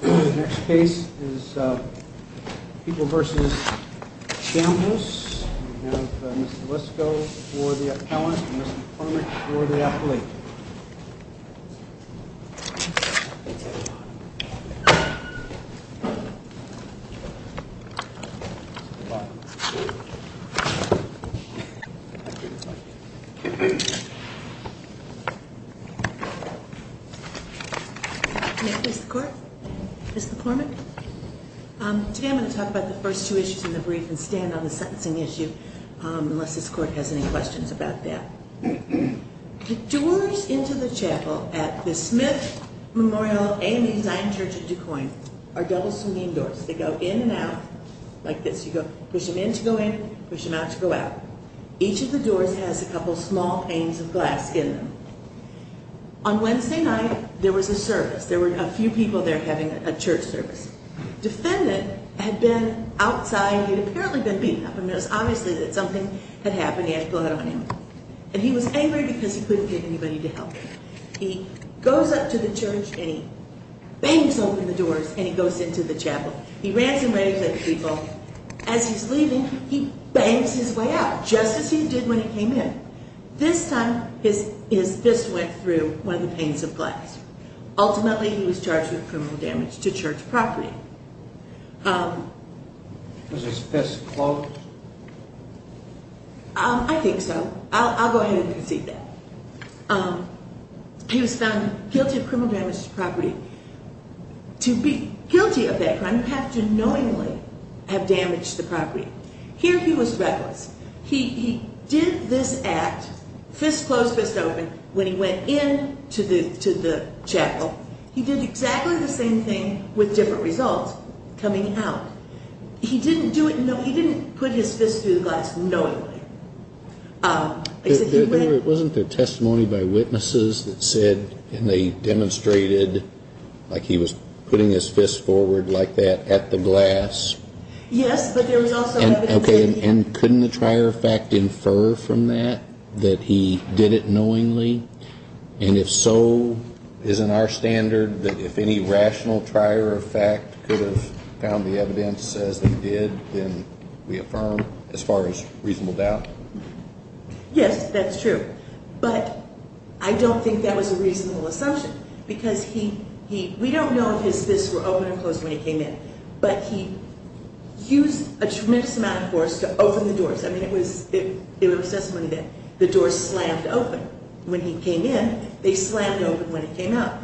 The next case is People v. Chambliss. We have Mr. Lisko for the appellant and Mr. Plummett for the athlete. Today I'm going to talk about the first two issues in the brief and stand on the sentencing issue unless this court has any questions about that. The doors into the chapel at the Smith Memorial AME Zion Church in Des Moines are double saloon doors. They go in and out like this. You push them in to go in, push them out to go out. Each of the doors has a couple small panes of glass in them. On Wednesday night there was a service. There were a few people there having a church service. This defendant had been outside. He had apparently been beaten up and it was obvious that something had happened. He had blood on him. And he was angry because he couldn't get anybody to help him. He goes up to the church and he bangs open the doors and he goes into the chapel. He ransoms the people. As he's leaving he bangs his way out just as he did when he came in. This time his fist went through one of the panes of glass. Ultimately he was charged with criminal damage to church property. Was his fist closed? I think so. I'll go ahead and concede that. He was found guilty of criminal damage to property. To be guilty of that crime you have to knowingly have damaged the property. Here he was reckless. He did this act, fist closed, fist open, when he went into the chapel. He did exactly the same thing with different results coming out. He didn't put his fist through the glass knowingly. Wasn't there testimony by witnesses that said and they demonstrated like he was putting his fist forward like that at the glass? Yes, but there was also evidence. And couldn't the trier of fact infer from that that he did it knowingly? And if so, isn't our standard that if any rational trier of fact could have found the evidence as they did, then we affirm as far as reasonable doubt? Yes, that's true. But I don't think that was a reasonable assumption because we don't know if his fists were open or closed when he came in, but he used a tremendous amount of force to open the doors. I mean it was testimony that the doors slammed open when he came in. They slammed open when he came out.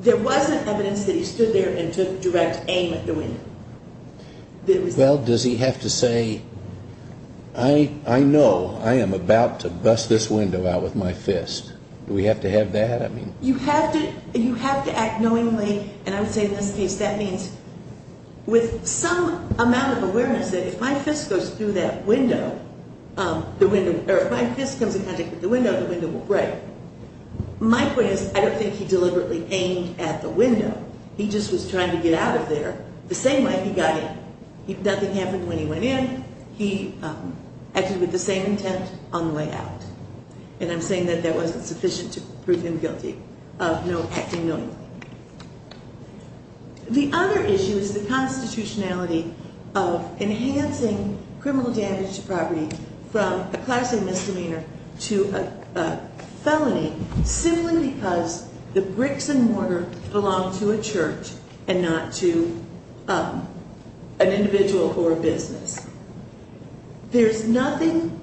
There wasn't evidence that he stood there and took direct aim at the window. Well, does he have to say, I know I am about to bust this window out with my fist. Do we have to have that? You have to act knowingly and I would say in this case that means with some amount of awareness that if my fist goes through that window, or if my fist comes in contact with the window, the window will break. My point is I don't think he deliberately aimed at the window. He just was trying to get out of there the same way he got in. Nothing happened when he went in. He acted with the same intent on the way out. And I'm saying that that wasn't sufficient to prove him guilty of no acting knowingly. The other issue is the constitutionality of enhancing criminal damage to property from a class A misdemeanor to a felony simply because the bricks and mortar belong to a church and not to an individual or a business. There's nothing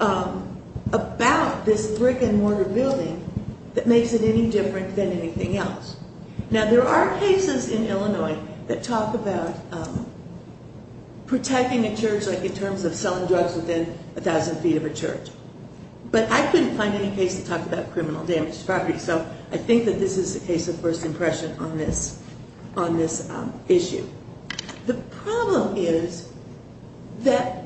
about this brick and mortar building that makes it any different than anything else. Now there are cases in Illinois that talk about protecting a church like in terms of selling drugs within a thousand feet of a church. But I couldn't find any case that talked about criminal damage to property so I think that this is a case of first impression on this issue. The problem is that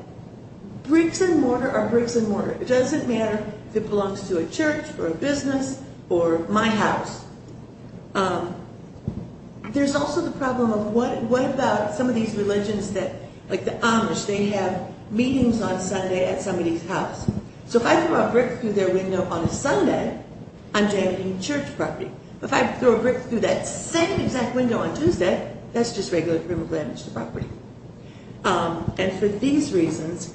bricks and mortar are bricks and mortar. It doesn't matter if it belongs to a church or a business or my house. There's also the problem of what about some of these religions that, like the Amish, they have meetings on Sunday at somebody's house. So if I throw a brick through their window on a Sunday, I'm damaging church property. But if I throw a brick through that same exact window on Tuesday, that's just regular criminal damage to property. And for these reasons,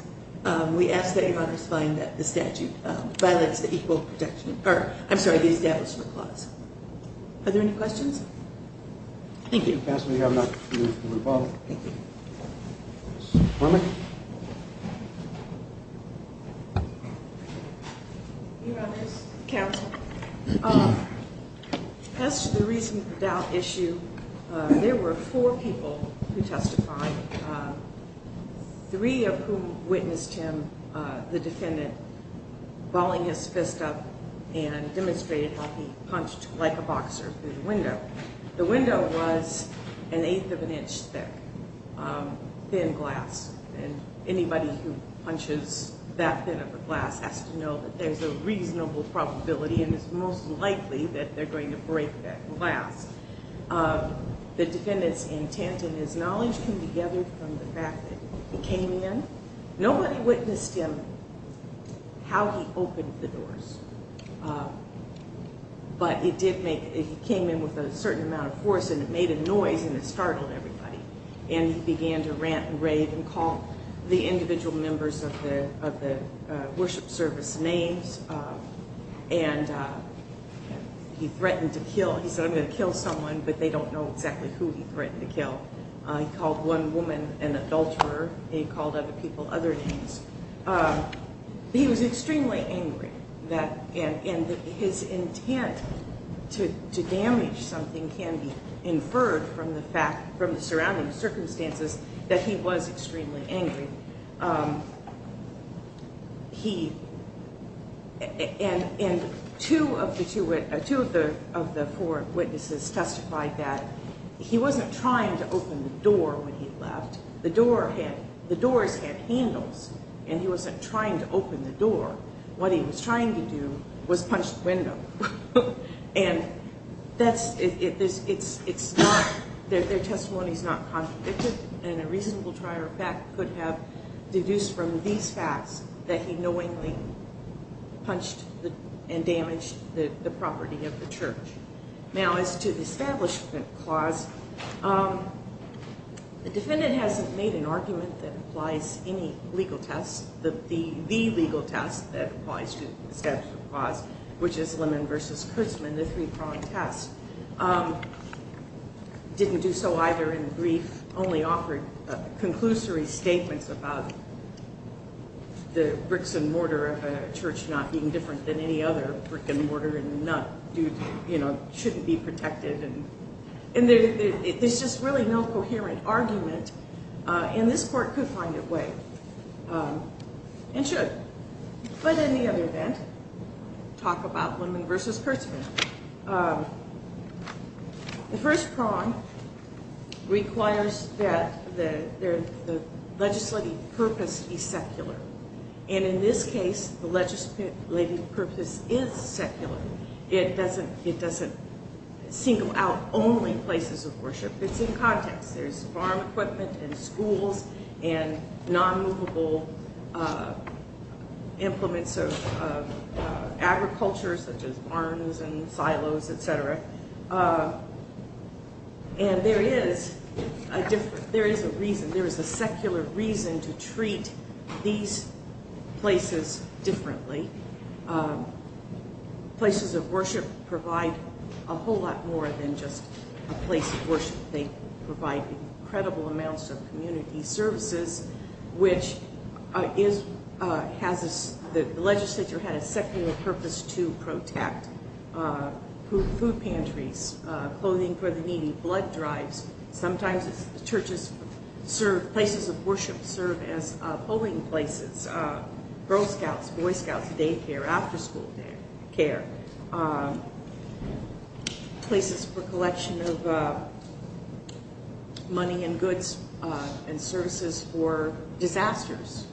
we ask that your Honor's find that the statute violates the equal protection, or I'm sorry, the Establishment Clause. Thank you. Counselor, do you have a motion to move the rebuttal? Ms. Bormack? Your Honor's counsel, as to the reason for the doubt issue, there were four people who testified. Three of whom witnessed him, the defendant, balling his fist up and demonstrated how he punched like a boxer through the window. The window was an eighth of an inch thick, thin glass. And anybody who punches that thin of a glass has to know that there's a reasonable probability and is most likely that they're going to break that glass. The defendant's intent and his knowledge came together from the fact that he came in. Nobody witnessed him, how he opened the doors. But it did make, he came in with a certain amount of force and it made a noise and it startled everybody. And he began to rant and rave and call the individual members of the worship service names. And he threatened to kill, he said, I'm going to kill someone, but they don't know exactly who he threatened to kill. He called one woman an adulterer. He called other people other names. He was extremely angry. And his intent to damage something can be inferred from the fact, from the surrounding circumstances, that he was extremely angry. And two of the four witnesses testified that he wasn't trying to open the door when he left. The doors had handles and he wasn't trying to open the door. What he was trying to do was punch the window. And that's, it's not, their testimony is not contradicted. And a reasonable trier of fact could have deduced from these facts that he knowingly punched and damaged the property of the church. Now, as to the Establishment Clause, the defendant hasn't made an argument that applies any legal test. The legal test that applies to the Establishment Clause, which is Lemon versus Kurtzman, the three-pronged test, didn't do so either in brief. Only offered conclusory statements about the bricks and mortar of a church not being different than any other brick and mortar and nut shouldn't be protected. And there's just really no coherent argument. And this court could find a way and should. But in the other event, talk about Lemon versus Kurtzman. The first prong requires that the legislative purpose be secular. And in this case, the legislative purpose is secular. It's in context. There's farm equipment and schools and non-movable implements of agriculture, such as barns and silos, etc. And there is a different, there is a reason, there is a secular reason to treat these places differently. Places of worship provide a whole lot more than just a place of worship. They provide incredible amounts of community services, which is, has, the legislature had a secular purpose to protect food pantries, clothing for the needy, blood drives. Sometimes churches serve, places of worship serve as polling places, Girl Scouts, Boy Scouts, daycare, after-school daycare, places for collection of money and goods and services for disasters.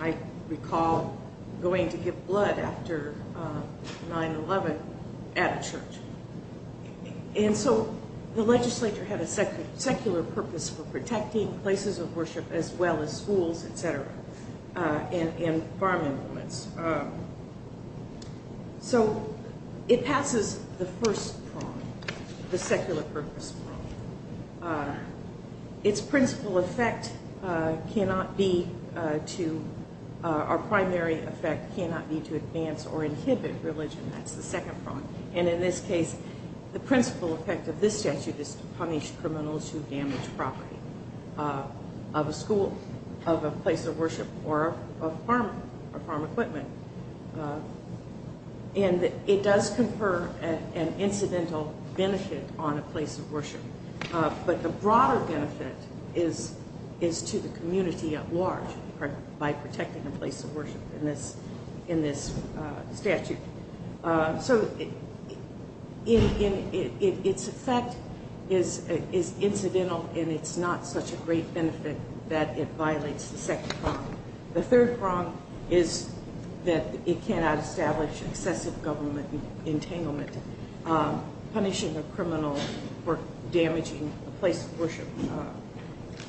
I recall going to give blood after 9-11 at a church. And so, the legislature had a secular purpose for protecting places of worship as well as schools, etc., and farm implements. So, it passes the first prong, the secular purpose prong. Its principal effect cannot be to, our primary effect cannot be to advance or inhibit religion. That's the second prong. And in this case, the principal effect of this statute is to punish criminals who damage property of a school, of a place of worship, or of farm equipment. And it does confer an incidental benefit on a place of worship. But the broader benefit is to the community at large by protecting a place of worship in this statute. So, its effect is incidental and it's not such a great benefit that it violates the second prong. The third prong is that it cannot establish excessive government entanglement. Punishing a criminal for damaging a place of worship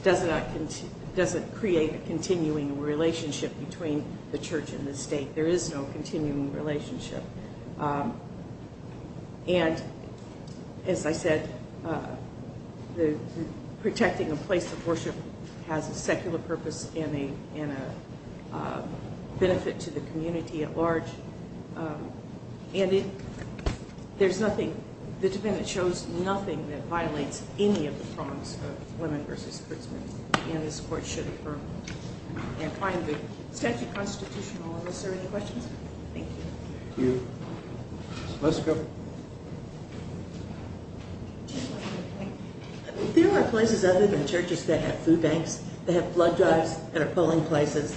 doesn't create a continuing relationship between the church and the state. There is no continuing relationship. And, as I said, protecting a place of worship has a secular purpose and a benefit to the community at large. And it, there's nothing, the defendant shows nothing that violates any of the prongs of women versus prisoners. And this court should affirm. And finally, the statute constitutional, are there any questions? Thank you. Let's go. There are places other than churches that have food banks, that have flood drives, that are polling places.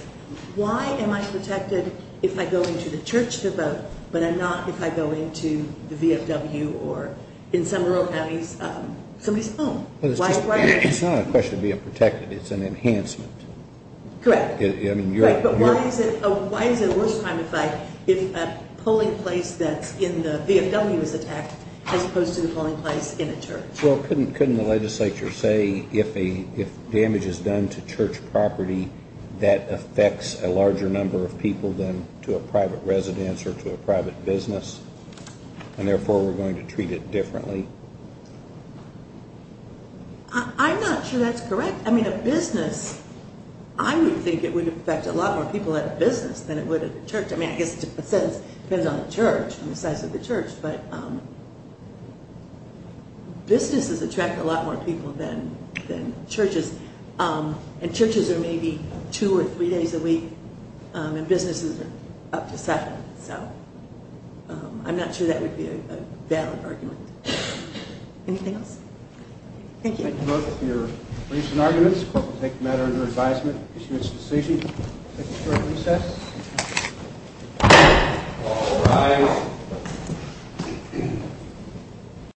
Why am I protected if I go into the church to vote, but I'm not if I go into the VFW or in some rural counties, somebody's home? It's not a question of being protected, it's an enhancement. Correct. But why is it a worse crime to fight if a polling place that's in the VFW is attacked as opposed to the polling place in a church? Well, couldn't the legislature say if damage is done to church property, that affects a larger number of people than to a private residence or to a private business? And therefore, we're going to treat it differently? I'm not sure that's correct. I mean, a business, I would think it would affect a lot more people at a business than it would at a church. I mean, I guess it depends on the church and the size of the church, but businesses attract a lot more people than churches. And churches are maybe two or three days a week, and businesses are up to seven. So I'm not sure that would be a valid argument. Anything else? Thank you. Thank you both for your briefs and arguments. The court will take the matter under advisement to issue its decision. We'll take a short recess. All rise.